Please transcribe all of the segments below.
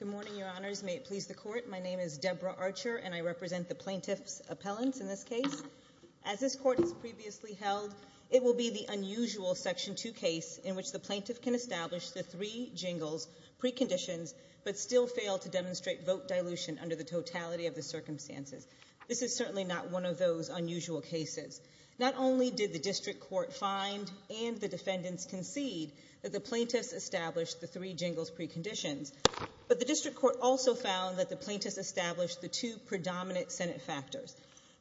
Good morning, Your Honors. May it please the Court, my name is Deborah Archer, and I represent the Plaintiff's Appellants in this case. As this Court has previously held, it will be the unusual Section 2 case in which the Plaintiff can establish the three jingles, preconditions, preconditions, but still fail to demonstrate vote dilution under the totality of the circumstances. This is certainly not one of those unusual cases. Not only did the District Court find and the defendants concede that the Plaintiffs established the three jingles, preconditions, but the District Court also found that the Plaintiffs established the two predominant Senate factors,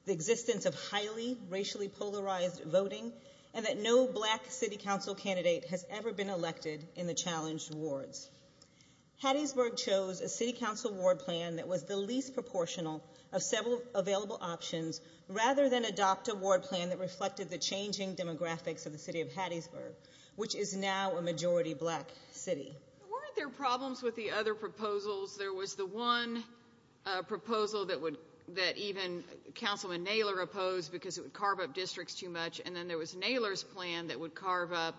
the existence of highly racially polarized voting, and that no black City Council candidate has ever been elected in the challenged wards. Hattiesburg chose a City Council ward plan that was the least proportional of several available options, rather than adopt a ward plan that reflected the changing demographics of the City of Hattiesburg, which is now a majority black City. Weren't there problems with the other proposals? There was the one proposal that even Councilman Naylor opposed because it would carve up districts too much, and then there was Naylor's plan that would carve up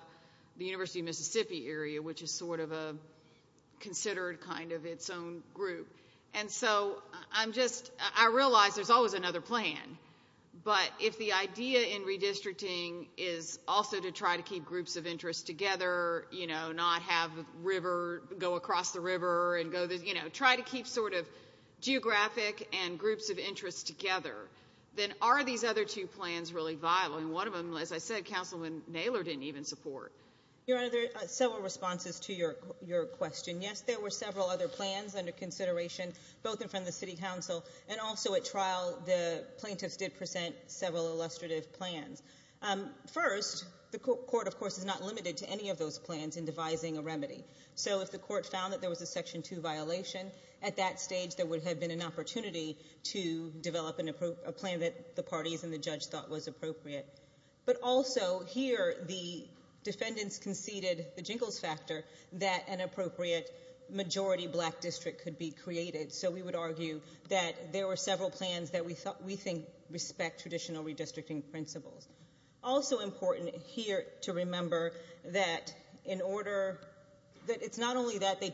the University of Mississippi area, which is sort of a considered kind of its own group. And so, I'm just, I realize there's always another plan, but if the idea in redistricting is also to try to keep groups of interest together, you know, not have river, go across the river and go, you know, try to keep sort of geographic and groups of interest together, then are these other two plans really viable? And one of them, as I said, Councilman Naylor didn't even support. Your Honor, there are several responses to your question. Yes, there were several other plans under consideration, both in front of the City Council, and also at trial, the plaintiffs did present several illustrative plans. First, the court, of course, is not limited to any of those plans in devising a remedy. So, if the court found that there was a Section 2 violation, at that stage, there would have been an opportunity to develop a plan that the parties and the judge thought was appropriate. But also, here, the defendants conceded the jingles factor that an appropriate majority black district could be created. So, we would argue that there were several plans that we thought, we think, respect traditional redistricting principles. Also important here to remember that in order, that it's not only that they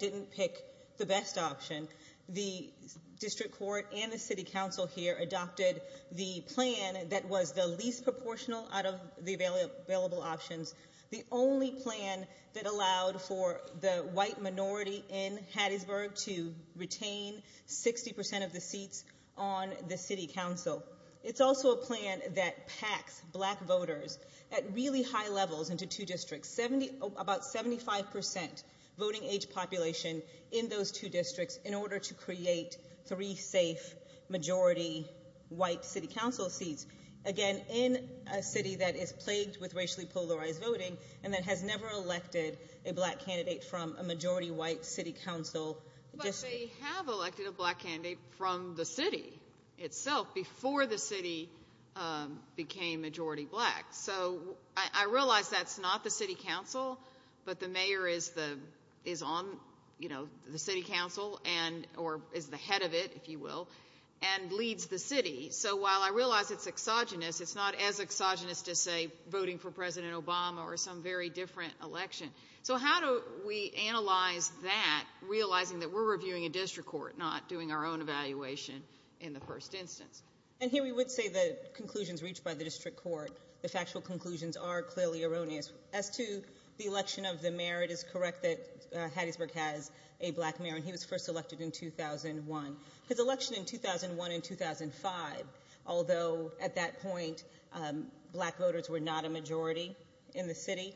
plan that was the least proportional out of the available options, the only plan that allowed for the white minority in Hattiesburg to retain 60% of the seats on the City Council. It's also a plan that packs black voters at really high levels into two districts. About 75% voting age population in those two districts in order to create three safe majority white City Council seats. Again, in a city that is plagued with racially polarized voting and that has never elected a black candidate from a majority white City Council district. But they have elected a black candidate from the city itself before the city became majority black. So, I realize that's not the City Council, but the mayor is on the City Council, or is the head of it, if you will, and leads the city. So, while I realize it's exogenous, it's not as exogenous to say voting for President Obama or some very different election. So, how do we analyze that, realizing that we're reviewing a district court, not doing our own evaluation in the first instance? And here we would say the conclusions reached by the district court, the factual conclusions are clearly erroneous. As to the election of the mayor, it is correct that Hattiesburg has a black mayor, and he was first elected in 2001. His election in 2001 and 2005, although at that point black voters were not a majority in the city,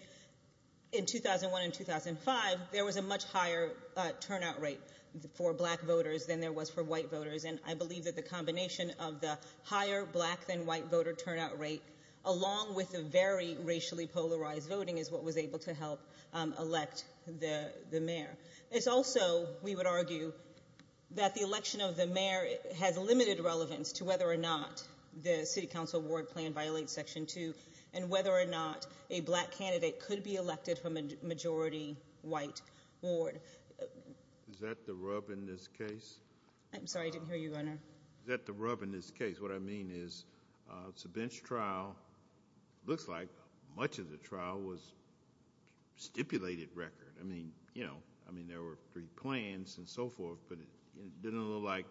in 2001 and 2005, there was a much higher turnout rate for black voters than there was for white voters. And I believe that the combination of the higher black than white voter turnout rate, along with the very low turnout rate, is also, we would argue, that the election of the mayor has limited relevance to whether or not the City Council Ward Plan violates Section 2, and whether or not a black candidate could be elected from a majority white ward. Is that the rub in this case? I'm sorry, I didn't hear you, Your Honor. Is that the rub in this case? What I mean is, it's a bench trial. It looks like much of the trial was stipulated record. I mean, you know, there were three plans and so forth, but it didn't look like,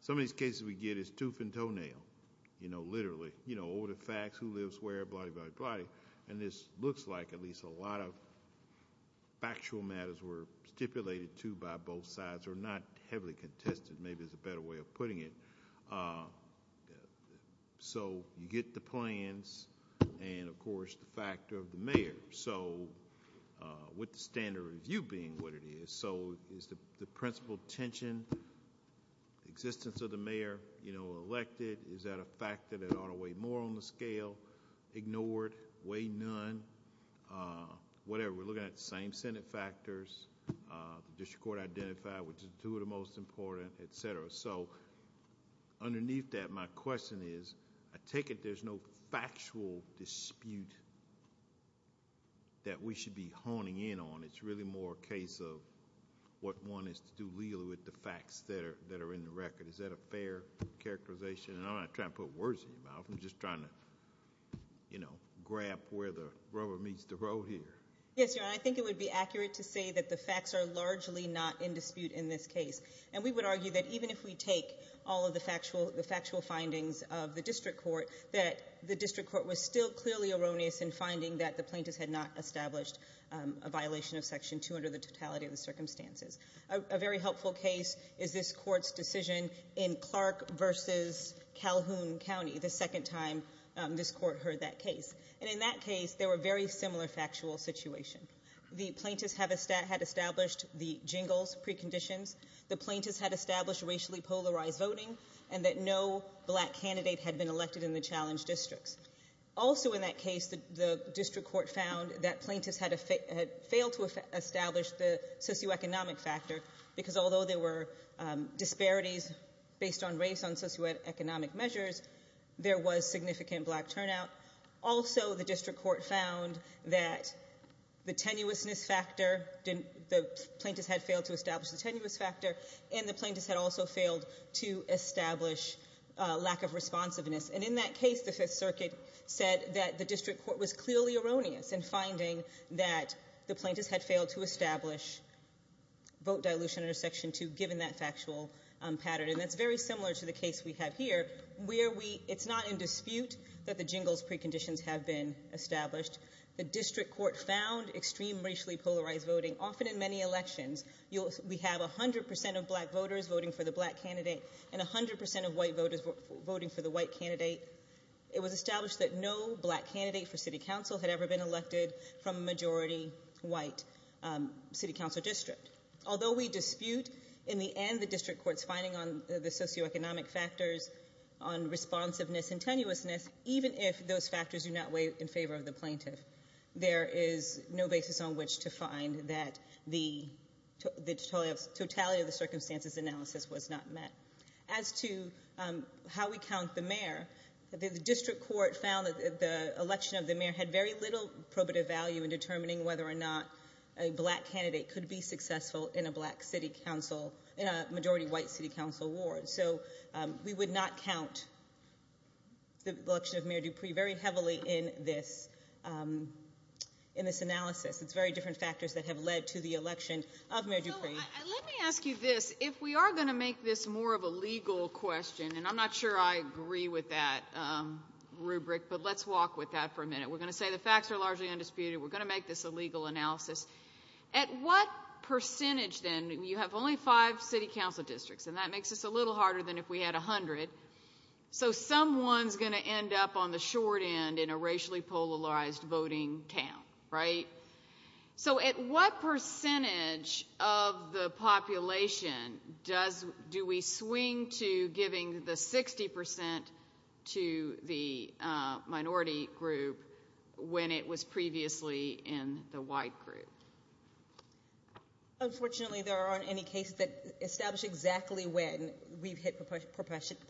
some of these cases we get is tooth and toenail, you know, literally. You know, over the facts, who lives where, blah, blah, blah. And this looks like at least a lot of factual matters were stipulated, too, by both sides, or not heavily contested, maybe is a better way of putting it. So, you get the plans, and of course the fact that it's a factor of the mayor. So, with the standard review being what it is, so is the principal tension, existence of the mayor, you know, elected, is that a factor that ought to weigh more on the scale, ignored, weigh none, whatever. We're looking at the same Senate factors, the district court identified, which is two of the most important, et cetera. So, underneath that, my question is, I take it there's no factual dispute that we should be honing in on. It's really more a case of what one is to do legally with the facts that are in the record. Is that a fair characterization? And I'm not trying to put words in your mouth. I'm just trying to, you know, grab where the rubber meets the road here. Yes, Your Honor. I think it would be accurate to say that the facts are largely not in dispute in this case. And we would argue that even if we take all of the factual findings of the district court, that the district court was still clearly erroneous in finding that the plaintiffs had not established a violation of Section 2 under the totality of the circumstances. A very helpful case is this court's decision in Clark versus Calhoun County, the second time this court heard that case. And in that case, they were very similar factual situation. The plaintiffs had established the Jingles preconditions. The plaintiffs had established racially polarized voting, and that no black candidate had been elected in the challenged districts. Also in that case, the district court found that plaintiffs had failed to establish the socioeconomic factor, because although there were disparities based on race on socioeconomic measures, there was significant black turnout. Also, the district court found that the tenuousness factor, the plaintiffs had failed to establish the tenuous factor, and the plaintiffs had also failed to establish lack of responsiveness. And in that case, the Fifth Circuit said that the district court was clearly erroneous in finding that the plaintiffs had failed to establish vote dilution under Section 2, given that factual pattern. And that's very similar to the case we have here, where it's not in dispute that the Jingles preconditions have been established. The district court found extreme racially polarized voting. Often in many elections, we have 100% of black voters voting for the black candidate and 100% of white voters voting for the white candidate. It was established that no black candidate for city council had ever been elected from a majority white city council district. Although we dispute, in the end, the district court's finding on the socioeconomic factors on responsiveness and tenuousness, even if those factors do not weigh in favor of the plaintiff, there is no basis on which to find that the totality of the circumstances analysis was not met. As to how we count the mayor, the district court found that the election of the mayor had very little probative value in determining whether or not a black candidate could be successful in a black city council, in a majority white city council ward. So we would not count the election of Mayor Dupree very heavily in this analysis. It's very different factors that have led to the election of Mayor Dupree. So let me ask you this. If we are going to make this more of a legal question, and I'm not sure I agree with that rubric, but let's walk with that for a minute. We're going to say the facts are largely undisputed. We're going to make this a legal analysis. At what percentage then, you have only five city council districts, and that makes this a little harder than if we had 100, so someone's going to end up on the short end in a racially polarized voting count, right? So at what percentage of the population do we swing to giving the 60% to the minority group when it was previously in the white group? Unfortunately, there aren't any cases that establish exactly when we've hit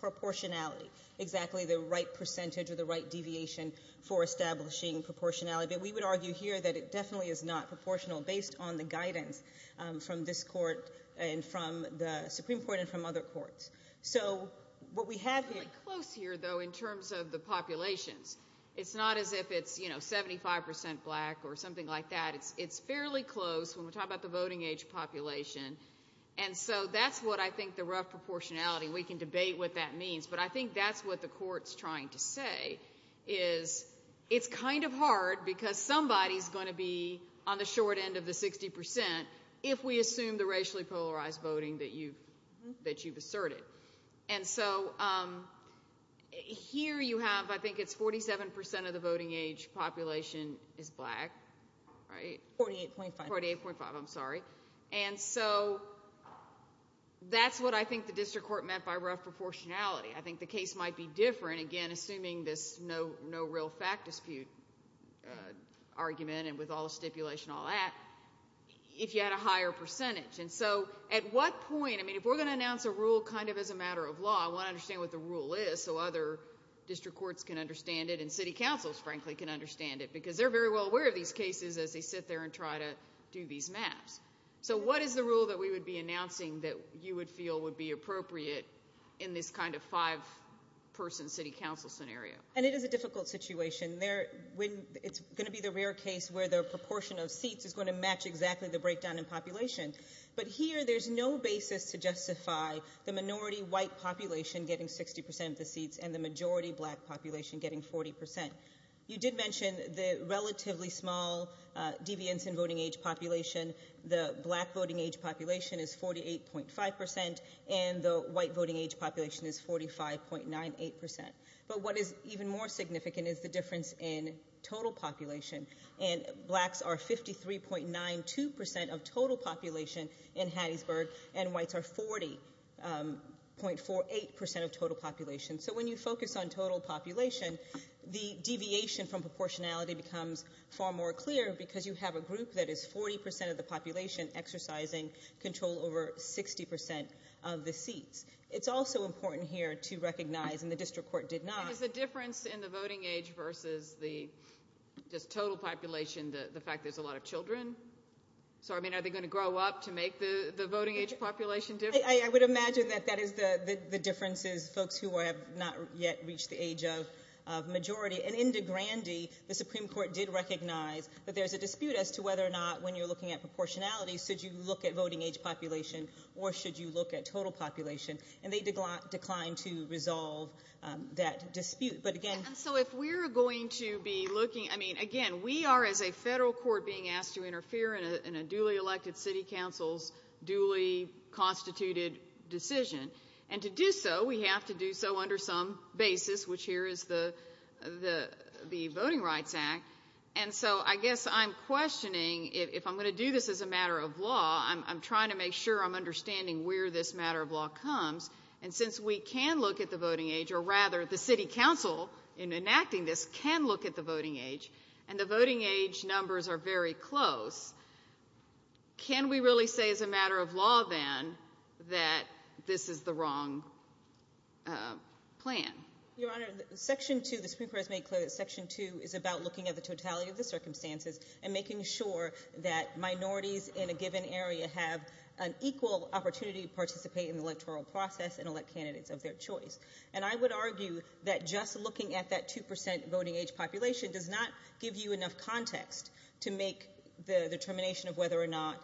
proportionality, exactly the right percentage or the right deviation for establishing proportionality. We would argue here that it definitely is not proportional based on the guidance from this court and from the Supreme Court and from other courts. So what we have here... It's fairly close here, though, in terms of the populations. It's not as if it's 75% black or something like that. It's fairly close when we're talking about the voting age population, and so that's what I think the rough proportionality... We can debate what that means, but I think that's what the court's trying to say is it's kind of hard because somebody's going to be on the short end of the 60% if we assume the racially polarized voting that you've asserted. And so here you have, I think it's 47% of the voting age population is black, right? 48.5. 48.5, I'm sorry. And so that's what I think the district court meant by rough proportionality. I think the case might be different, again, assuming this no real fact dispute argument and with all the stipulation and all that, if you had a higher percentage. And so at what point... I mean, if we're going to announce a rule kind of as a matter of law, I want to understand what the rule is so other district courts can understand it and city councils, frankly, can understand it because they're very well aware of these cases as they sit there and try to do these maps. So what is the rule that we would be announcing that you would feel would be appropriate in this kind of five-person city council scenario? And it is a difficult situation. It's going to be the rare case where the proportion of But here there's no basis to justify the minority white population getting 60% of the seats and the majority black population getting 40%. You did mention the relatively small deviance in voting age population. The black voting age population is 48.5% and the white voting age population is 45.98%. But what is even more significant is the difference in total population and blacks are 53.92% of total population in Hattiesburg and whites are 40.48% of total population. So when you focus on total population, the deviation from proportionality becomes far more clear because you have a group that is 40% of the population exercising control over 60% of the seats. It's also important here to recognize, and the district court did not... Is the difference in the voting age versus the just total population the fact there's a lot of children? So, I mean, are they going to grow up to make the voting age population difference? I would imagine that that is the difference is folks who have not yet reached the age of majority. And in DeGrande, the Supreme Court did recognize that there's a dispute as to whether or not when you're looking at proportionality, should you look at voting age population or should you look at total population? And they declined to resolve that dispute. But again... And so if we're going to be looking... I mean, again, we are as a federal court being asked to interfere in a duly elected city council's duly constituted decision. And to do so, we have to do so under some basis, which here is the Voting Rights Act. And so I guess I'm questioning if I'm going to do this as a matter of law, I'm trying to make sure I'm understanding where this matter of law comes. And since we can look at the voting age, or rather the city council in enacting this can look at the voting age, and the voting age numbers are very close, can we really say as a matter of law then that this is the wrong plan? Your Honor, Section 2, the Supreme Court has made clear that Section 2 is about looking at the totality of the circumstances and making sure that minorities in a given area have an equal opportunity to participate in the electoral process and elect candidates of their choice. And I would argue that just looking at that 2% voting age population does not give you enough context to make the determination of whether or not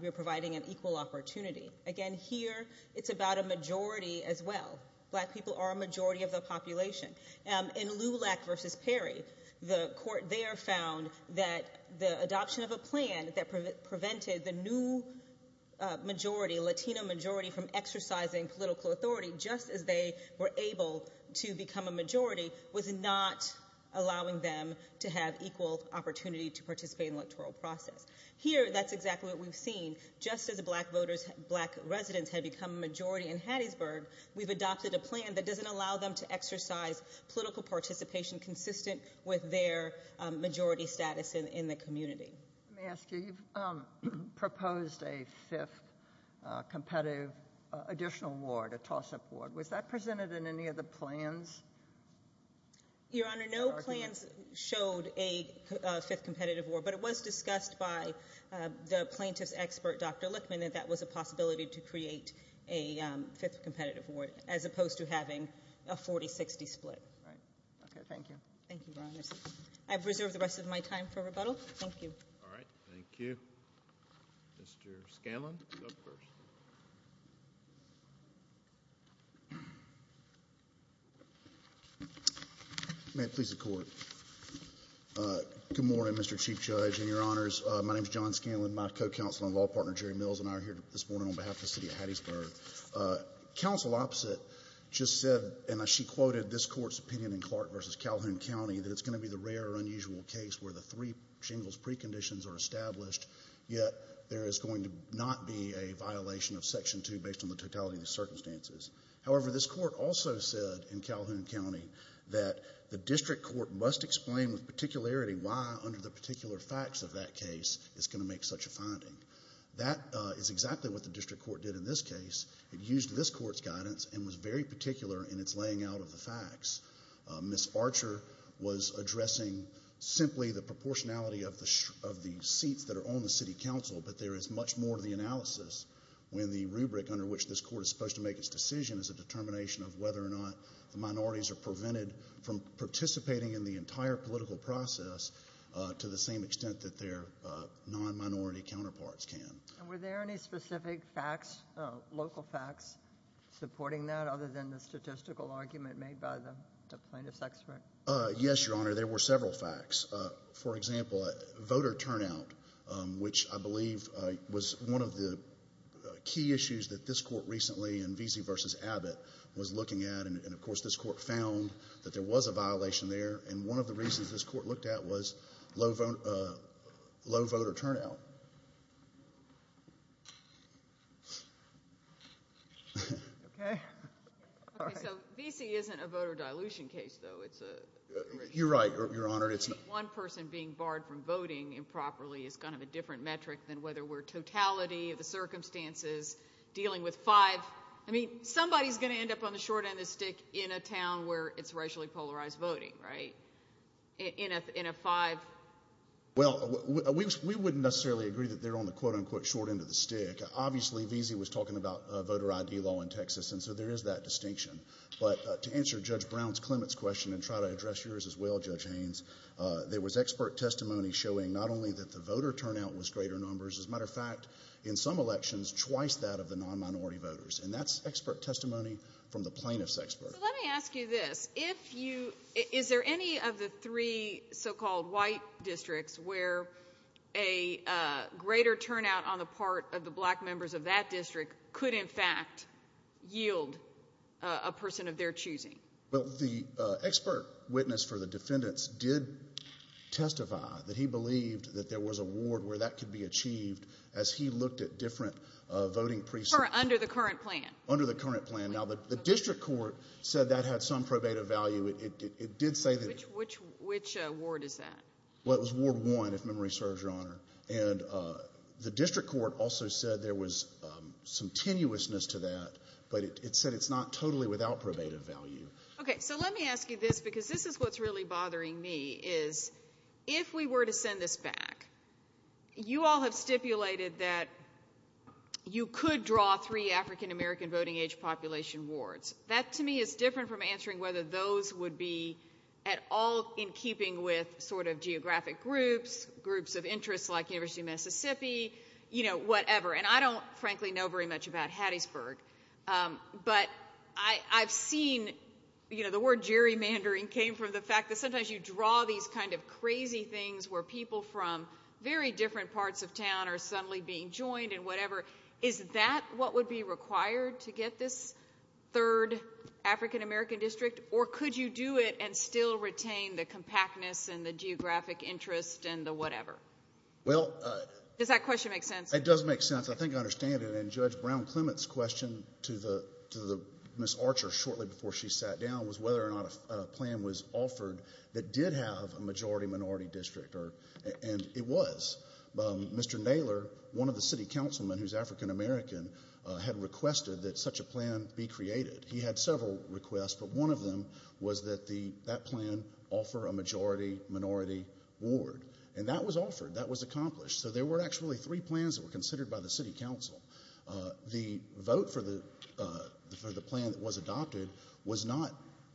we're providing an equal opportunity. Again, here, it's about a majority as well. Black people are a majority of the population. In Lulac v. Perry, the court there found that the adoption of a plan that prevented the new majority, Latino majority, from exercising political authority just as they were able to become a majority was not allowing them to have equal opportunity to participate in the electoral process. Here, that's exactly what we've seen. Just as black voters, black residents have become a majority in Hattiesburg, we've adopted a plan that doesn't allow them to exercise political participation consistent with their majority status in the community. Thank you. Let me ask you, you've proposed a fifth competitive additional ward, a toss-up ward. Was that presented in any of the plans? Your Honor, no plans showed a fifth competitive ward, but it was discussed by the plaintiff's expert, Dr. Lichtman, that that was a possibility to create a fifth competitive ward as opposed to having a 40-60 split. Right. Okay, thank you. Thank you, Your Honor. I've reserved the rest of my time for rebuttal. Thank you. All right. Thank you. Mr. Scanlon, you're up first. May it please the Court. Good morning, Mr. Chief Judge and Your Honors. My name is John Scanlon. My co-counsel and law partner, Jerry Mills, and I are here this morning on behalf of the City of Hattiesburg. Counsel Opposite just said, and she quoted this Court's opinion in Clark v. Calhoun County, that it's going to be the rare or unusual case where the three chambers of the Supreme Court of Hattiesburg are going to make such a finding. That is exactly what the District Court did in this case. It used this Court's guidance and was very particular in its laying out of the facts. Ms. Archer was addressing simply the proportionality of the seats that are on the City Council, but there is much more to the analysis when the rubric under which this Court is supposed to make its decision is a determination of whether or not the minorities are prevented from participating in the entire political process to the same extent that their non-minority counterparts can. And were there any specific facts, local facts, supporting that other than the statistical argument made by the plaintiff's expert? Yes, Your Honor, there were several facts. For example, voter turnout, which I believe was one of the key issues that this Court recently in Veazey v. Abbott was looking at, and of course this Court found that there was a violation there, and one of the reasons this Court looked at was low voter turnout. Okay. Okay, so Veazey isn't a voter dilution case, though, it's a... You're right, Your Honor, it's not. One person being barred from voting improperly is kind of a different metric than whether we're totality of the circumstances, dealing with five, I mean, somebody's going to end up on the short end of the stick in a town where it's racially polarized voting, right? In a five... Well, we wouldn't necessarily agree that they're on the quote-unquote short end of the stick. Obviously, Veazey was talking about voter ID law in Texas, and so there is that distinction. But to answer Judge Brown's, Clement's question, and try to address yours as well, Judge Haynes, there was expert testimony showing not only that the voter turnout was greater numbers, as a matter of fact, in some elections, twice that of the non-minority voters, and that's expert testimony from the plaintiff's expert. So let me ask you this. Is there any of the three so-called white districts where a greater turnout on the part of the black members of that district could, in fact, yield a person of their choosing? Well, the expert witness for the defendants did testify that he believed that there was a ward where that could be achieved, as he looked at different voting precincts. Under the current plan? Under the current plan. Now, the district court said that had some probative value. It did say that... Which ward is that? Well, it was Ward 1, if memory serves, Your Honor. And the district court also said there was some tenuousness to that, but it said it's not totally without probative value. Okay. So let me ask you this, because this is what's really bothering me, is if we were to send this back, you all have stipulated that you could draw three African-American voting age population wards. That to me is different from answering whether those would be at all in keeping with sort of interests like University of Mississippi, you know, whatever. And I don't, frankly, know very much about Hattiesburg, but I've seen, you know, the word gerrymandering came from the fact that sometimes you draw these kind of crazy things where people from very different parts of town are suddenly being joined and whatever. Is that what would be required to get this third African-American district, or could you do it and still retain the compactness and the geographic interest and the whatever? Does that question make sense? It does make sense. I think I understand it. And Judge Brown-Clement's question to Ms. Archer shortly before she sat down was whether or not a plan was offered that did have a majority-minority district, and it was. Mr. Naylor, one of the city councilmen who's African-American, had requested that such a plan be created. He had several requests, but one of them was that that plan offer a majority-minority ward. And that was offered. That was accomplished. So there were actually three plans that were considered by the city council. The vote for the plan that was adopted was not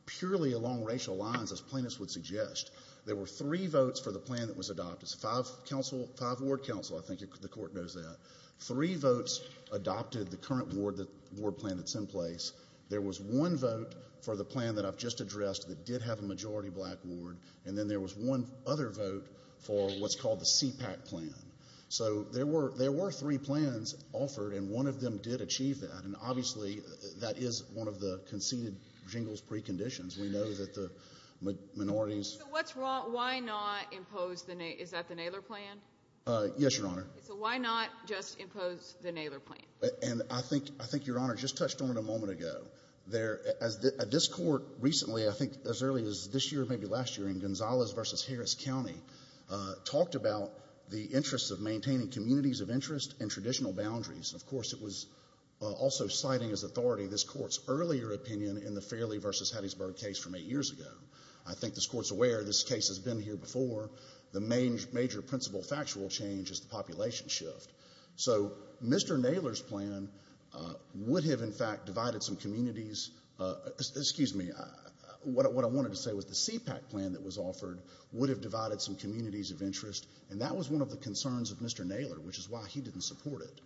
purely along racial lines, as plaintiffs would suggest. There were three votes for the plan that was adopted. Five ward council, I think the court knows that. Three votes adopted the current ward plan that's in place. There was one vote for the plan that I've just addressed that did have a majority-black ward. And then there was one other vote for what's called the CPAC plan. So there were three plans offered, and one of them did achieve that. And obviously, that is one of the conceded jingles preconditions. We know that the minorities... So what's wrong? Why not impose the... Is that the Naylor plan? Yes, Your Honor. So why not just impose the Naylor plan? And I think Your Honor just touched on it a moment ago. This court recently, I think as early as this year or maybe last year, in Gonzalez v. Harris County, talked about the interest of maintaining communities of interest and traditional boundaries. And of course, it was also citing as authority this court's earlier opinion in the Fairley v. Hattiesburg case from eight years ago. I think this court's aware this case has been here before. The major principle factual change is the population shift. So Mr. Naylor's plan would have, in fact, divided some communities... Excuse me. What I wanted to say was the CPAC plan that was offered would have divided some communities of interest, and that was one of the concerns of Mr. Naylor, which is why he didn't support it.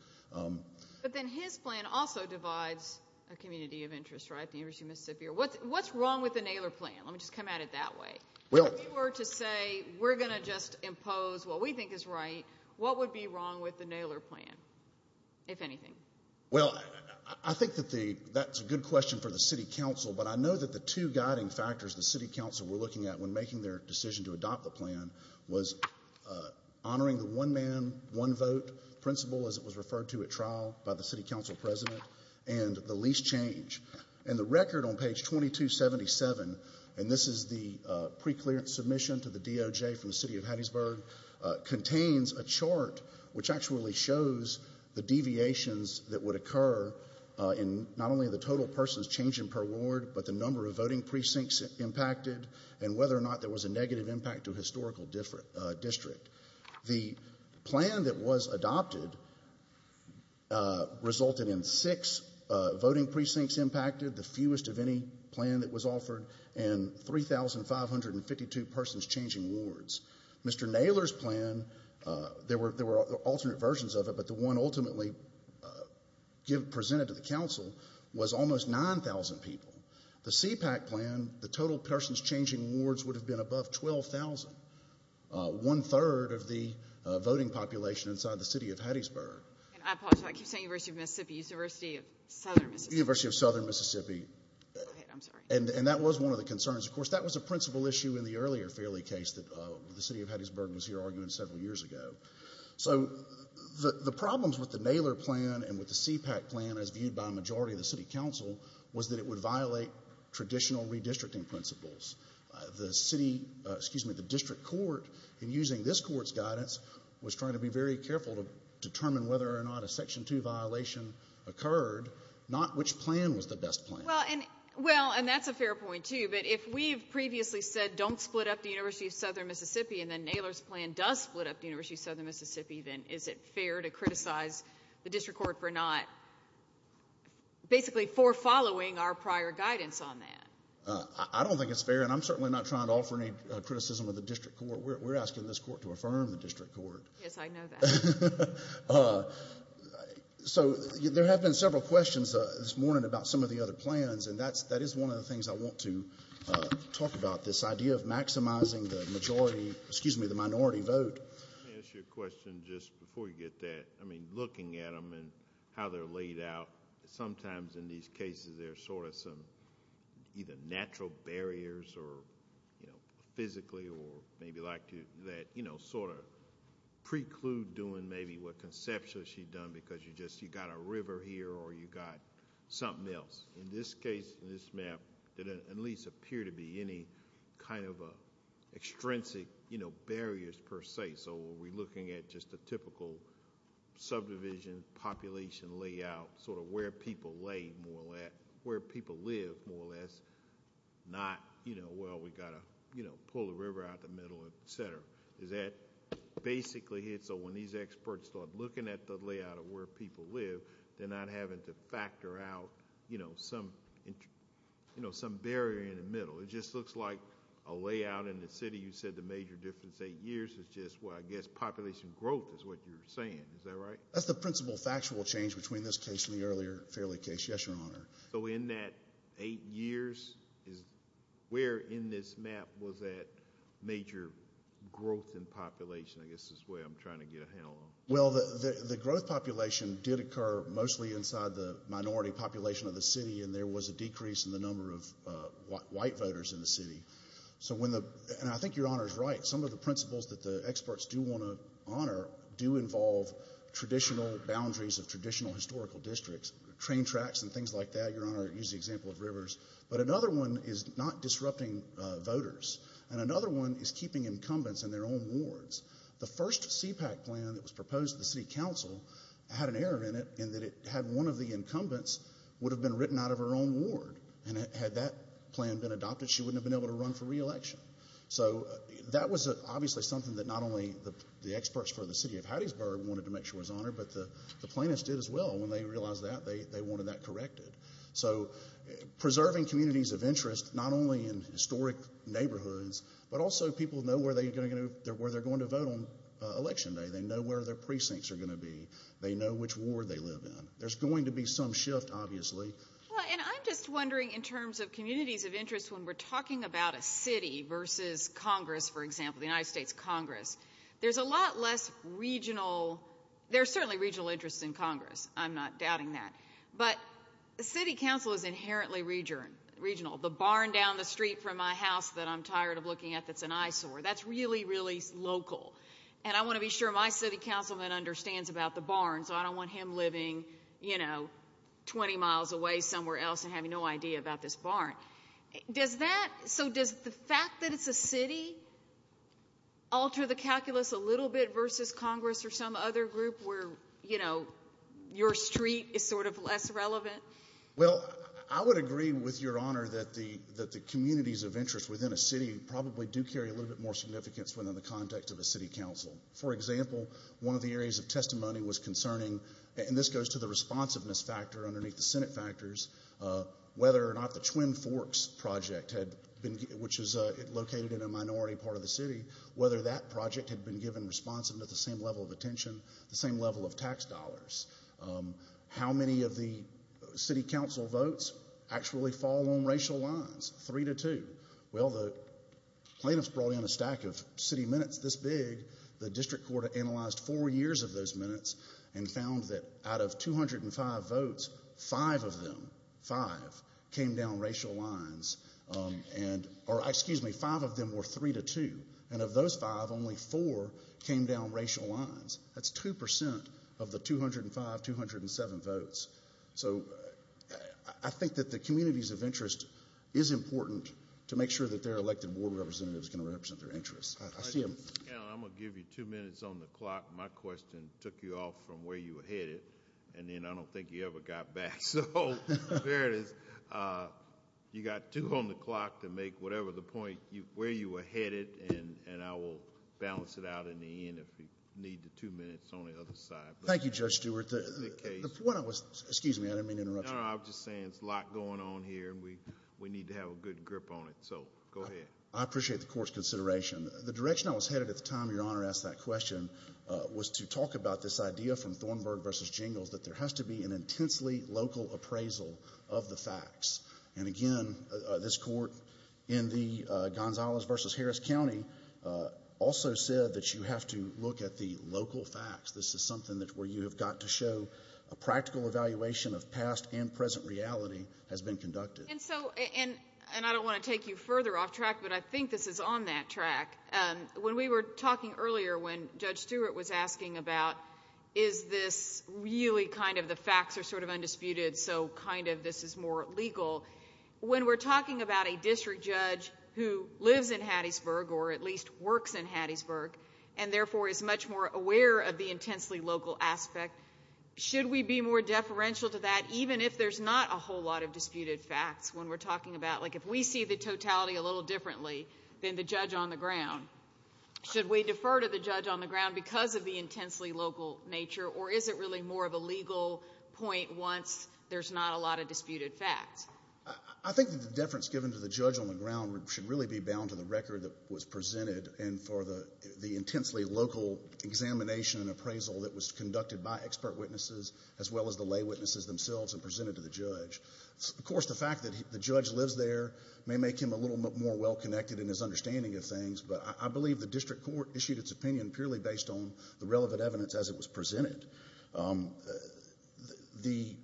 But then his plan also divides a community of interest, right, the University of Mississippi? What's wrong with the Naylor plan? Let me just come at it that way. If you were to say, we're going to just impose what we think is right, what would be wrong with the Naylor plan, if anything? Well, I think that that's a good question for the City Council, but I know that the two guiding factors the City Council were looking at when making their decision to adopt the plan was honoring the one-man, one-vote principle, as it was referred to at trial by the City Council President, and the lease change. And the record on page 2277, and this is the preclearance submission to the DOJ from the City of Hattiesburg, contains a chart which actually shows the deviations that would occur in not only the total persons changing per ward, but the number of voting precincts impacted, and whether or not there was a negative impact to a historical district. The plan that was adopted resulted in six voting precincts impacted, the fewest of any plan that was offered, and 3,552 persons changing wards. Mr. Naylor's plan, there were alternate versions of it, but the one ultimately presented to the Council was almost 9,000 people. The CPAC plan, the total persons changing wards would have been above 12,000. One-third of the voting population inside the City of Hattiesburg. And I apologize, I keep saying University of Mississippi, it's University of Southern Mississippi. University of Southern Mississippi. Go ahead, I'm sorry. And that was one of the concerns. Of course, that was a principle issue in the earlier Fairleigh case that the City of Hattiesburg was here arguing several years ago. So the problems with the Naylor plan and with the CPAC plan, as viewed by a majority of the City Council, was that it would violate traditional redistricting principles. The City, excuse me, the District Court, in using this Court's guidance, was trying to be very careful to determine whether or not a Section 2 violation occurred, not which plan was the best plan. Well, and that's a fair point, too, but if we've previously said don't split up the University of Southern Mississippi, and then Naylor's plan does split up the University of Southern Mississippi, then is it fair to criticize the District Court for not, basically, for following our prior guidance on that? I don't think it's fair, and I'm certainly not trying to offer any criticism of the District Court. We're asking this Court to affirm the District Court. Yes, I know that. So there have been several questions this morning about some of the other plans, and that is one of the things I want to talk about, this idea of maximizing the majority, excuse me, the minority vote. Let me ask you a question just before you get that. I mean, looking at them and how they're laid out, sometimes in these cases there's sort of some either natural barriers or, you know, physically or maybe like that, you know, sort of preclude doing maybe what conceptually she'd done because you just, you got a river here or you got something else. In this case, in this map, there didn't at least appear to be any kind of extrinsic, you know, barriers per se. So are we looking at just a typical subdivision, population layout, sort of where people lay more or less, where people live more or less, not, you know, well, we've got to, you know, pull the river out the middle, et cetera. Is that basically it so when these experts start looking at the layout of where people live, they're not having to factor out, you know, some barrier in the middle. It just looks like a layout in the city. You said the major difference, eight years, is just, well, I guess population growth is what you're saying. Is that right? That's the principal factual change between this case and the earlier Fairleigh case. Yes, Your Honor. So in that eight years, where in this map was that major growth in population? I guess this is where I'm trying to get a handle on it. Well, the growth population did occur mostly inside the minority population of the city and there was a decrease in the number of white voters in the city. So when the, and I think Your Honor's right, some of the principles that the experts do want to honor do involve traditional boundaries of traditional historical districts, train tracks and things like that, Your Honor used the example of rivers, but another one is not disrupting voters and another one is keeping incumbents in their own wards. The first CPAC plan that was proposed to the city council had an error in it in that it had one of the incumbents would have been written out of her own ward and had that plan been adopted, she wouldn't have been able to run for re-election. So that was obviously something that not only the experts for the city of Hattiesburg wanted to make sure was honored, but the plaintiffs did as well when they realized that they wanted that corrected. So preserving communities of interest, not only in historic neighborhoods, but also people know where they're going to vote on election day. They know where their precincts are going to be. They know which ward they live in. There's going to be some shift, obviously. And I'm just wondering in terms of communities of interest when we're talking about a city versus Congress, for example, the United States Congress, there's a lot less regional, there's certainly regional interest in Congress. I'm not doubting that. But the city council is inherently regional. The barn down the street from my house that I'm tired of looking at that's an eyesore, that's really, really local. And I want to be sure my city councilman understands about the barn, so I don't want him living, Does that, so does the fact that it's a city alter the calculus a little bit versus Congress or some other group where, you know, your street is sort of less relevant? Well, I would agree with your honor that the communities of interest within a city probably do carry a little bit more significance within the context of a city council. For example, one of the areas of testimony was concerning, and this goes to the responsiveness factor underneath the Senate factors, whether or not the Twin Forks project, which is located in a minority part of the city, whether that project had been given responsive to the same level of attention, the same level of tax dollars. How many of the city council votes actually fall on racial lines, three to two? Well, the plaintiffs brought in a stack of city minutes this big. The district court analyzed four years of those minutes and found that out of 205 votes, five of them, five, came down racial lines, and, or excuse me, five of them were three to two. And of those five, only four came down racial lines. That's 2% of the 205, 207 votes. So I think that the communities of interest is important to make sure that their elected board representative is going to represent their interests. I see them. I'm going to give you two minutes on the clock. My question took you off from where you were headed, and then I don't think you ever got back. So there it is. You got two on the clock to make whatever the point, where you were headed, and I will balance it out in the end if you need the two minutes on the other side. Thank you, Judge Stewart. The case... When I was... excuse me. I didn't mean to interrupt you. No, no. I was just saying there's a lot going on here, and we need to have a good grip on it. So go ahead. I appreciate the court's consideration. The direction I was headed at the time Your Honor asked that question was to talk about this idea from Thornburg v. Jingles that there has to be an intensely local appraisal of the facts. And again, this court in the Gonzales v. Harris County also said that you have to look at the local facts. This is something where you have got to show a practical evaluation of past and present reality has been conducted. And so, and I don't want to take you further off track, but I think this is on that track. When we were talking earlier when Judge Stewart was asking about is this really kind of the facts are sort of undisputed, so kind of this is more legal. When we're talking about a district judge who lives in Hattiesburg, or at least works in Hattiesburg, and therefore is much more aware of the intensely local aspect, should we be more deferential to that even if there's not a whole lot of disputed facts when we're talking about, like if we see the totality a little differently than the judge on the ground? Should we defer to the judge on the ground because of the intensely local nature, or is it really more of a legal point once there's not a lot of disputed facts? I think the deference given to the judge on the ground should really be bound to the record that was presented and for the intensely local examination and appraisal that was conducted by expert witnesses, as well as the lay witnesses themselves and presented to the judge. Of course, the fact that the judge lives there may make him a little more well-connected in his understanding of things, but I believe the district court issued its opinion purely based on the relevant evidence as it was presented. The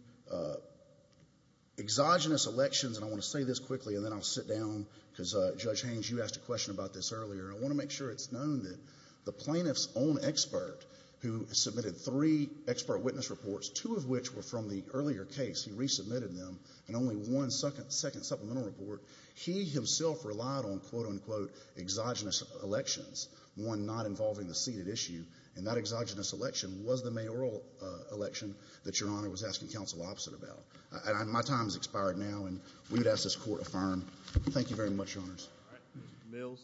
exogenous elections, and I want to say this quickly and then I'll sit down because Judge Haynes, you asked a question about this earlier, I want to make sure it's known that the plaintiff's own expert who submitted three expert witness reports, two of which were from the earlier case, he resubmitted them, and only one second supplemental report, he himself relied on, quote-unquote, exogenous elections, one not involving the seated issue, and that exogenous election was the mayoral election that Your Honor was asking counsel opposite about. My time has expired now, and we would ask this Court affirm. Thank you very much, Your Honors. All right, Mr. Mills.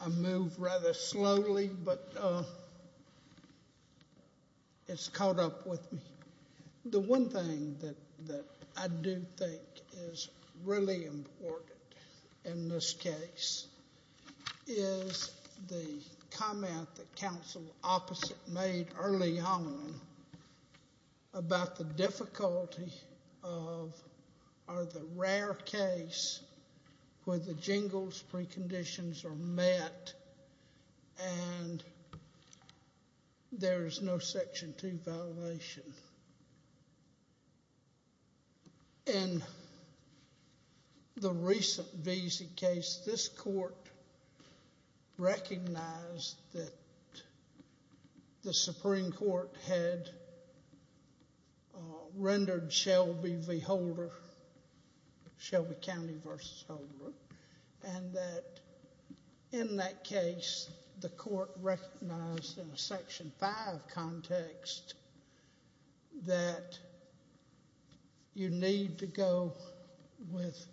I move rather slowly, but it's caught up with me. The one thing that I do think is really important in this case is the comment that counsel opposite made early on about the difficulty of, or the rare case where the jingles preconditions are met and there's no Section 2 violation. In the recent Veazey case, this Court recognized that the Supreme Court had rendered Shelby v. Holder, Shelby County v. Holder, and that in that case, the Court recognized in a Section 5 context that you need to go with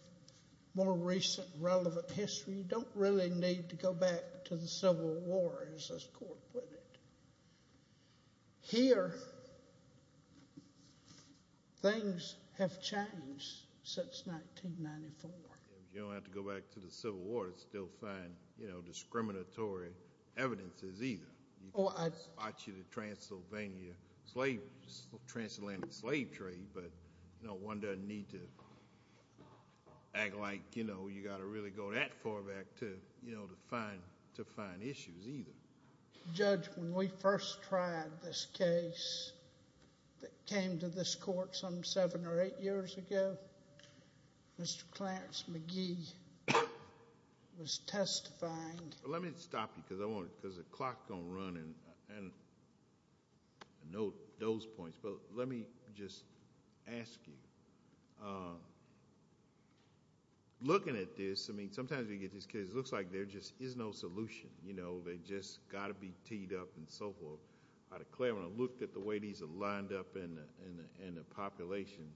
more recent relevant history. You don't really need to go back to the Civil War, as this Court put it. Here, things have changed since 1994. You don't have to go back to the Civil War to still find discriminatory evidences either. You can watch the Transylvania, Transatlantic slave trade, but one doesn't need to act like you've got to really go that far back to find issues either. Judge, when we first tried this case that came to this Court some seven or eight years ago, Mr. Clarence McGee was testifying... Let me stop you, because the clock is going to run, and I know those points, but let me just ask you, looking at this, sometimes we get these cases, it looks like there just is no solution. They've just got to be teed up and so forth. I declare when I looked at the way these are lined up in the population,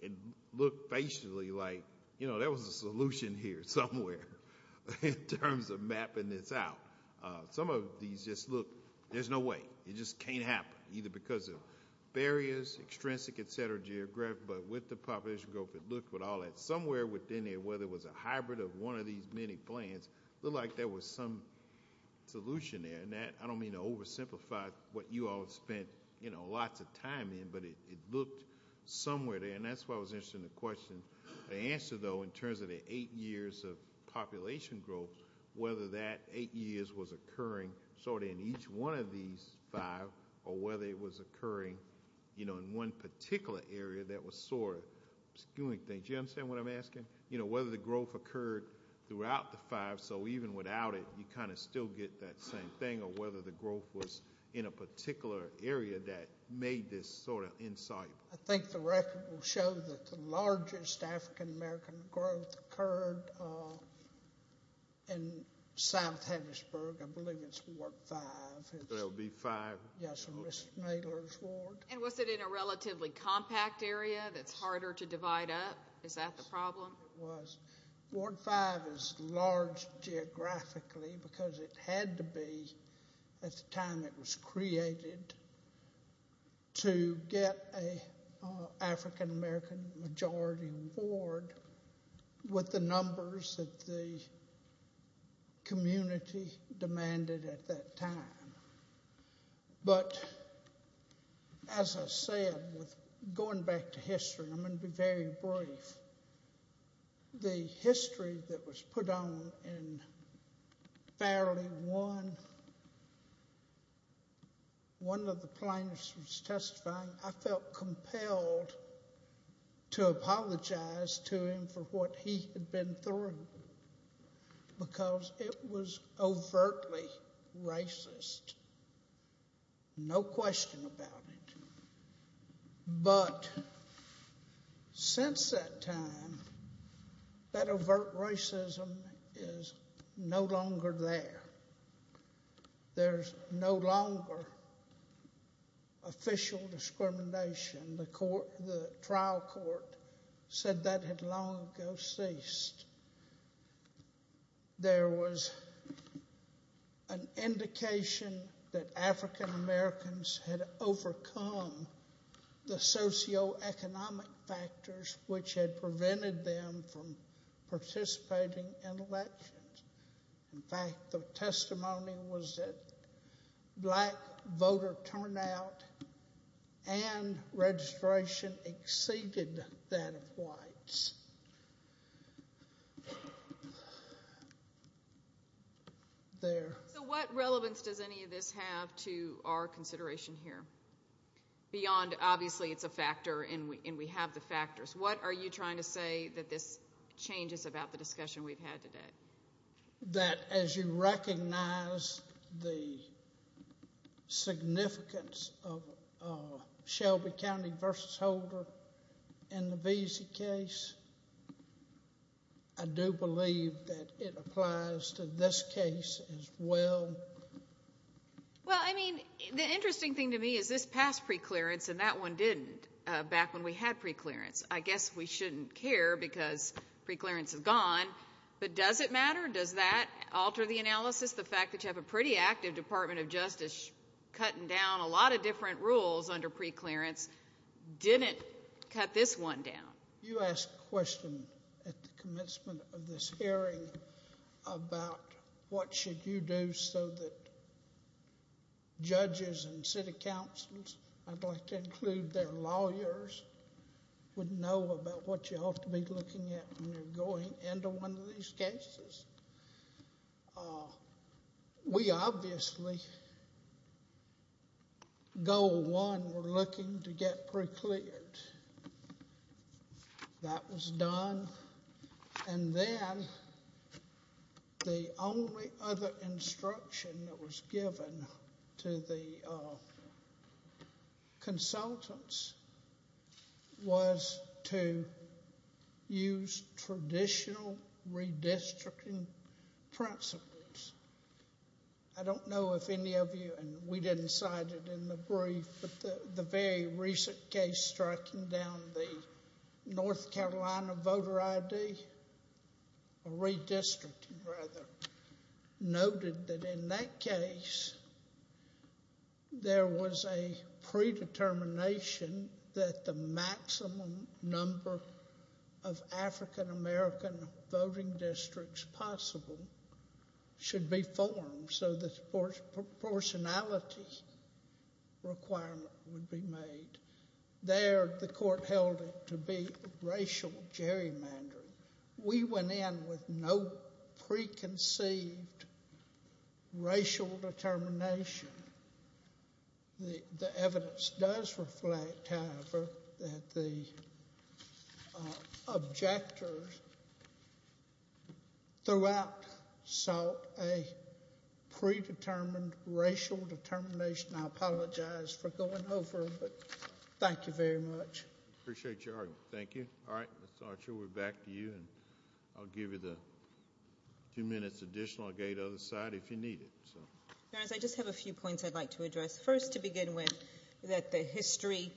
it looked facially like there was a solution here somewhere in terms of mapping this out. Some of these just look... there's no way. It just can't happen, either because of barriers, extrinsic, et cetera, geographic, but with the population growth, it looked with all that, somewhere within there where there was a hybrid of one of these many plants, it looked like there was some solution there. I don't mean to oversimplify what you all have spent lots of time in, but it looked somewhere there, and that's why I was interested in the question. The answer, though, in terms of the eight years of population growth, whether that eight years was occurring in each one of these five, or whether it was occurring in one particular area that was sort of skewing things, do you understand what I'm asking? Whether the growth occurred throughout the five, so even without it, you kind of still get that same thing, or whether the growth was in a particular area that made this sort of insoluble. I think the record will show that the largest African-American growth occurred in South Hattiesburg. I believe it's Ward 5. It'll be 5? Yes, in Mrs. Mailer's ward. And was it in a relatively compact area that's harder to divide up? Is that the problem? Yes, it was. Ward 5 is large geographically because it had to be, at the time it was created, to get an African-American majority ward with the numbers that the community demanded at that time. But, as I said, going back to history, I'm going to be very brief. The history that was put on in Farrelly 1, one of the plaintiffs was testifying. I felt compelled to apologize to him for what he had been through because it was overtly racist, no question about it. But since that time, that overt racism is no longer there. There's no longer official discrimination. The trial court said that had long ago ceased. There was an indication that African-Americans had overcome the socioeconomic factors which had prevented them from participating in elections. In fact, the testimony was that black voter turnout and registration exceeded that of African-Americans. There. So what relevance does any of this have to our consideration here, beyond obviously it's a factor and we have the factors? What are you trying to say that this changes about the discussion we've had today? Do you believe that as you recognize the significance of Shelby County v. Holder in the Veazie case, I do believe that it applies to this case as well? Well, I mean, the interesting thing to me is this passed preclearance and that one didn't back when we had preclearance. I guess we shouldn't care because preclearance is gone, but does it matter? Does that alter the analysis? The fact that you have a pretty active Department of Justice cutting down a lot of different rules under preclearance didn't cut this one down. You asked a question at the commencement of this hearing about what should you do so that you know about what you ought to be looking at when you're going into one of these cases. We obviously, goal one, we're looking to get precleared. That was done and then the only other instruction that was given to the consultants was to use traditional redistricting principles. I don't know if any of you, and we didn't cite it in the brief, but the very recent case striking down the North Carolina voter ID, or redistricting rather, noted that in that case there was a predetermination that the maximum number of African American voting districts possible should be formed so the proportionality requirement would be made. There the court held it to be racial gerrymandering. We went in with no preconceived racial determination. The evidence does reflect, however, that the objectors throughout sought a predetermined racial determination. I apologize for going over, but thank you very much. I appreciate your argument. Thank you. All right. Ms. Archer, we're back to you. I'll give you the two minutes additional. I'll go to the other side if you need it. I just have a few points I'd like to address. First to begin with, that the history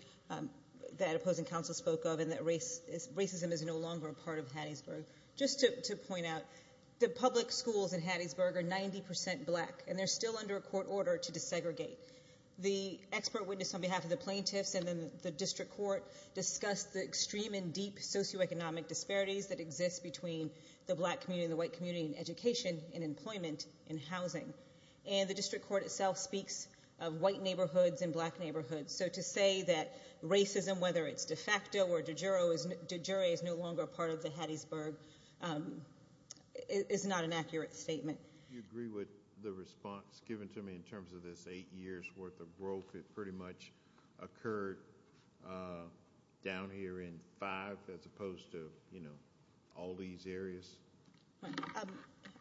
that opposing counsel spoke of and that racism is no longer a part of Hattiesburg. Just to point out, the public schools in Hattiesburg are 90% black and they're still under a court order to desegregate. The expert witness on behalf of the plaintiffs and the district court discussed the extreme and deep socioeconomic disparities that exist between the black community and the white community in education, in employment, in housing. The district court itself speaks of white neighborhoods and black neighborhoods. To say that racism, whether it's de facto or de jure, is no longer a part of the Hattiesburg is not an accurate statement. Do you agree with the response given to me in terms of this eight years' worth of growth that pretty much occurred down here in five as opposed to, you know, all these areas?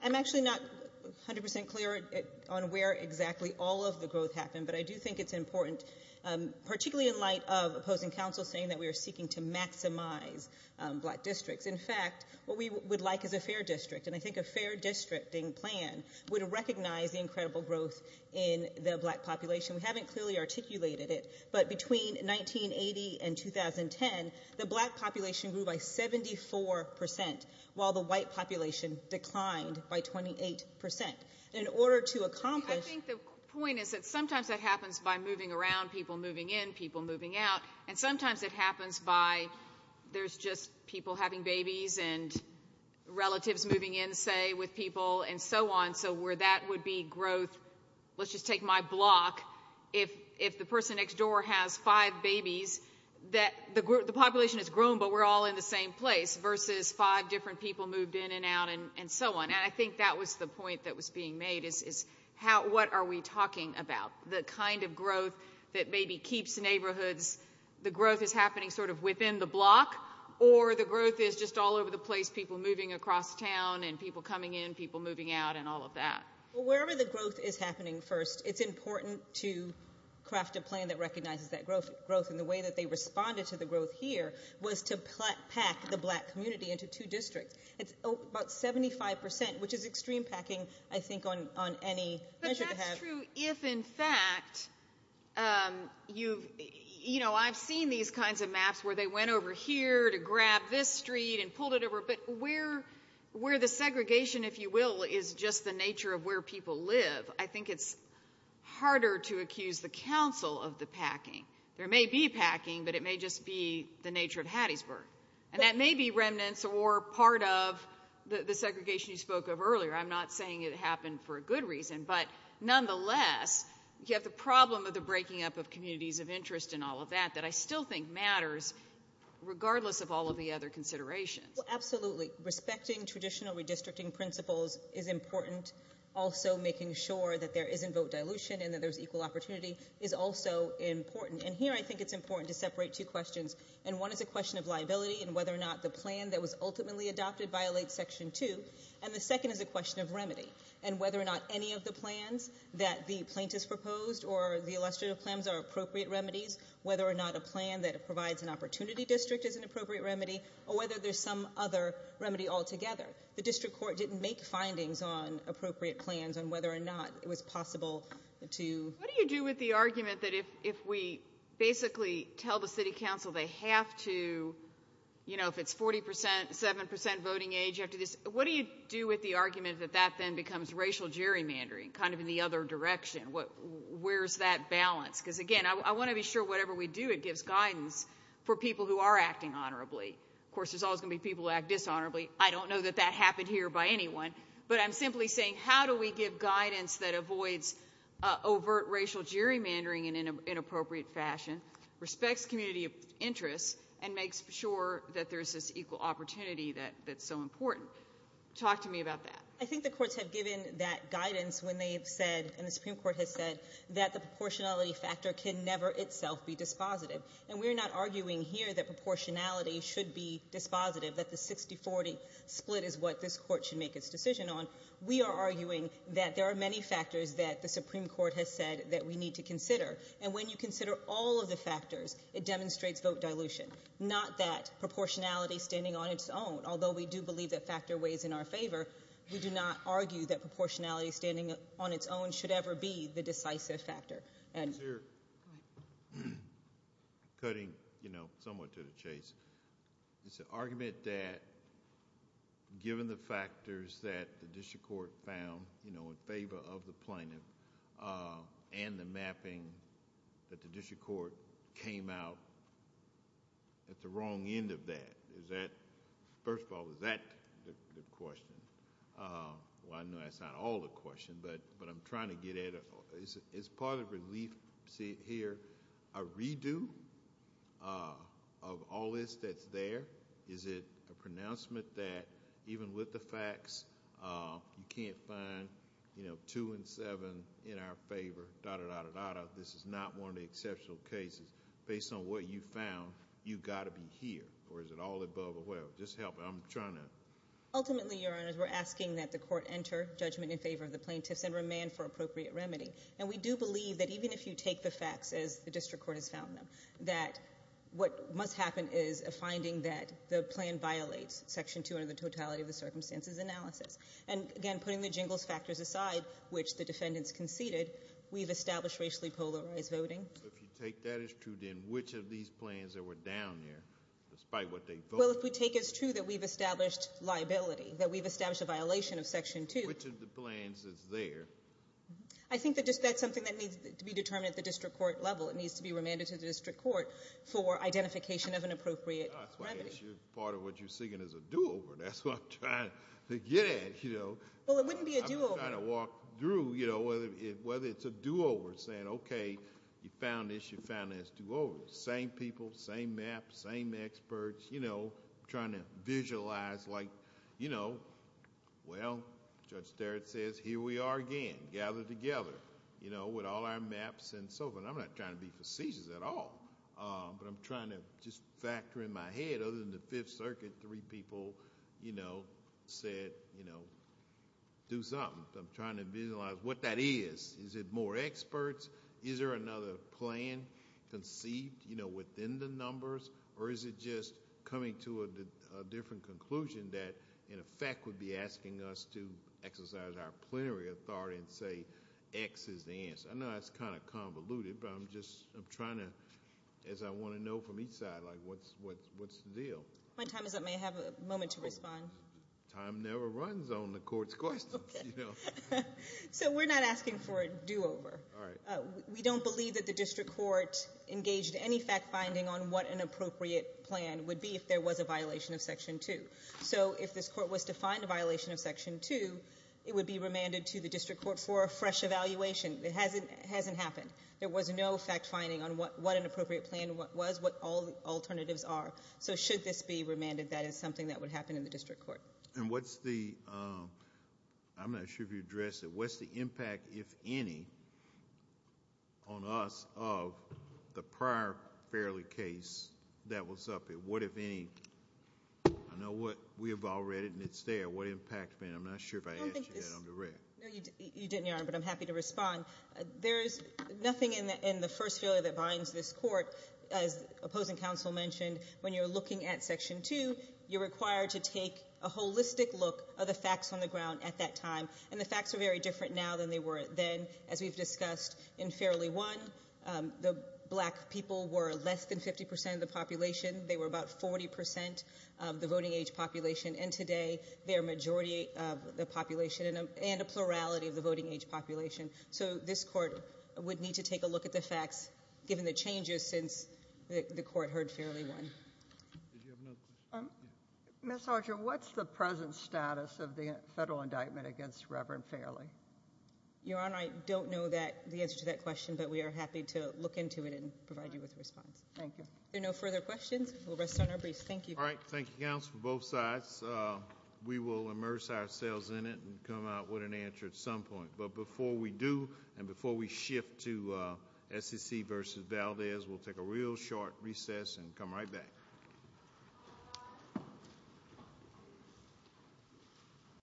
I'm actually not 100% clear on where exactly all of the growth happened, but I do think it's important, particularly in light of opposing counsel saying that we are seeking to maximize black districts. In fact, what we would like is a fair district, and I think a fair districting plan would recognize the incredible growth in the black population. We haven't clearly articulated it, but between 1980 and 2010, the black population grew by 74% while the white population declined by 28%. In order to accomplish- I think the point is that sometimes that happens by moving around, people moving in, people moving out. And sometimes it happens by there's just people having babies and relatives moving in, say, with people and so on. So where that would be growth, let's just take my block, if the person next door has five babies, the population has grown, but we're all in the same place, versus five different people moved in and out and so on. And I think that was the point that was being made, is what are we talking about, the kind of growth that maybe keeps neighborhoods- the growth is happening sort of within the block or the growth is just all over the place, people moving across town and people coming in, people moving out, and all of that. Well, wherever the growth is happening first, it's important to craft a plan that recognizes that growth. And the way that they responded to the growth here was to pack the black community into two districts. It's about 75%, which is extreme packing, I think, on any measure to have- But that's true if, in fact, you've- I've seen these kinds of maps where they went over here to grab this street and pulled it over, but where the segregation, if you will, is just the nature of where people live, I think it's harder to accuse the council of the packing. There may be packing, but it may just be the nature of Hattiesburg. And that may be remnants or part of the segregation you spoke of earlier, I'm not saying it happened for a good reason, but nonetheless, you have the problem of the breaking up of communities of interest and all of that, that I still think matters, regardless of all of the other considerations. Well, absolutely. Respecting traditional redistricting principles is important. Also making sure that there isn't vote dilution and that there's equal opportunity is also important. And here, I think it's important to separate two questions. And one is a question of liability and whether or not the plan that was ultimately adopted violates Section 2. And the second is a question of remedy and whether or not any of the plans that the plaintiffs proposed or the illustrative plans are appropriate remedies, whether or not a plan that provides an opportunity district is an appropriate remedy, or whether there's some other remedy altogether. The district court didn't make findings on appropriate plans on whether or not it was possible to... What do you do with the argument that if we basically tell the city council they have to, you know, if it's 40%, 7% voting age, you have to... What do you do with the argument that that then becomes racial gerrymandering, kind of in the other direction? Where's that balance? Because, again, I want to be sure whatever we do, it gives guidance for people who are acting honorably. Of course, there's always going to be people who act dishonorably. I don't know that that happened here by anyone. But I'm simply saying, how do we give guidance that avoids overt racial gerrymandering in an inappropriate fashion, respects community interests, and makes sure that there's this equal opportunity that's so important? Talk to me about that. I think the courts have given that guidance when they've said, and the Supreme Court has said, that the proportionality factor can never itself be dispositive. And we're not arguing here that proportionality should be dispositive, that the 60-40 split is what this court should make its decision on. We are arguing that there are many factors that the Supreme Court has said that we need to consider. And when you consider all of the factors, it demonstrates vote dilution, not that proportionality is standing on its own. Although we do believe that factor weighs in our favor, we do not argue that proportionality standing on its own should ever be the decisive factor. And... Sir, cutting somewhat to the chase, it's an argument that given the factors that the district court found in favor of the plaintiff, and the mapping that the district court came out with at the wrong end of that, is that... First of all, is that the question? Well, I know that's not all the question, but I'm trying to get at it. Is part of relief, see it here, a redo of all this that's there? Is it a pronouncement that even with the facts, you can't find two and seven in our favor, da-da-da-da-da-da? If you find out this is not one of the exceptional cases, based on what you found, you've got to be here. Or is it all above or whatever? Just help me. I'm trying to... Ultimately, Your Honors, we're asking that the court enter judgment in favor of the plaintiffs and remand for appropriate remedy. And we do believe that even if you take the facts as the district court has found them, that what must happen is a finding that the plan violates Section 200 of the Totality of the Circumstances Analysis. And again, putting the jingles factors aside, which the defendants conceded, we've established racially polarized voting. If you take that as true, then which of these plans that were down there, despite what they vote... Well, if we take as true that we've established liability, that we've established a violation of Section 2... Which of the plans is there? I think that that's something that needs to be determined at the district court level. It needs to be remanded to the district court for identification of an appropriate remedy. That's why part of what you're singing is a do-over. Well, it wouldn't be a do-over. I'm just trying to walk through whether it's a do-over, saying, okay, you found this, you found this. Do-over. Same people, same map, same experts, trying to visualize like, well, Judge Starrett says, here we are again, gathered together with all our maps and so forth. I'm not trying to be facetious at all, but I'm trying to just factor in my head, other than the Fifth Circuit, three people said, do something. I'm trying to visualize what that is. Is it more experts? Is there another plan conceived within the numbers, or is it just coming to a different conclusion that, in effect, would be asking us to exercise our plenary authority and say, X is the answer? I know that's kind of convoluted, but I'm trying to, as I want to know from each side, like, what's the deal? My time is up. May I have a moment to respond? Time never runs on the Court's questions, you know? So we're not asking for a do-over. We don't believe that the District Court engaged any fact-finding on what an appropriate plan would be if there was a violation of Section 2. So if this Court was to find a violation of Section 2, it would be remanded to the District Court for a fresh evaluation. It hasn't happened. There was no fact-finding on what an appropriate plan was, what all the alternatives are. So should this be remanded, that is something that would happen in the District Court. And what's the, I'm not sure if you addressed it, what's the impact, if any, on us of the prior Fairley case that was up? What if any, I know we have all read it and it's there, what impact, I mean, I'm not sure if I asked you that on the record. There's nothing in the first failure that binds this Court, as opposing counsel mentioned, when you're looking at Section 2, you're required to take a holistic look of the facts on the ground at that time. And the facts are very different now than they were then. As we've discussed in Fairley 1, the black people were less than 50% of the population. They were about 40% of the voting age population. And today, they're a majority of the population and a plurality of the voting age population. So this Court would need to take a look at the facts, given the changes since the Court heard Fairley 1. Did you have another question? Ms. Archer, what's the present status of the federal indictment against Reverend Fairley? Your Honor, I don't know the answer to that question, but we are happy to look into it and provide you with a response. Thank you. Are there no further questions? We'll rest on our briefs. Thank you. All right. Thank you, counsel, both sides. We will immerse ourselves in it and come out with an answer at some point. But before we do, and before we shift to SEC v. Valdez, we'll take a real short recess and come right back.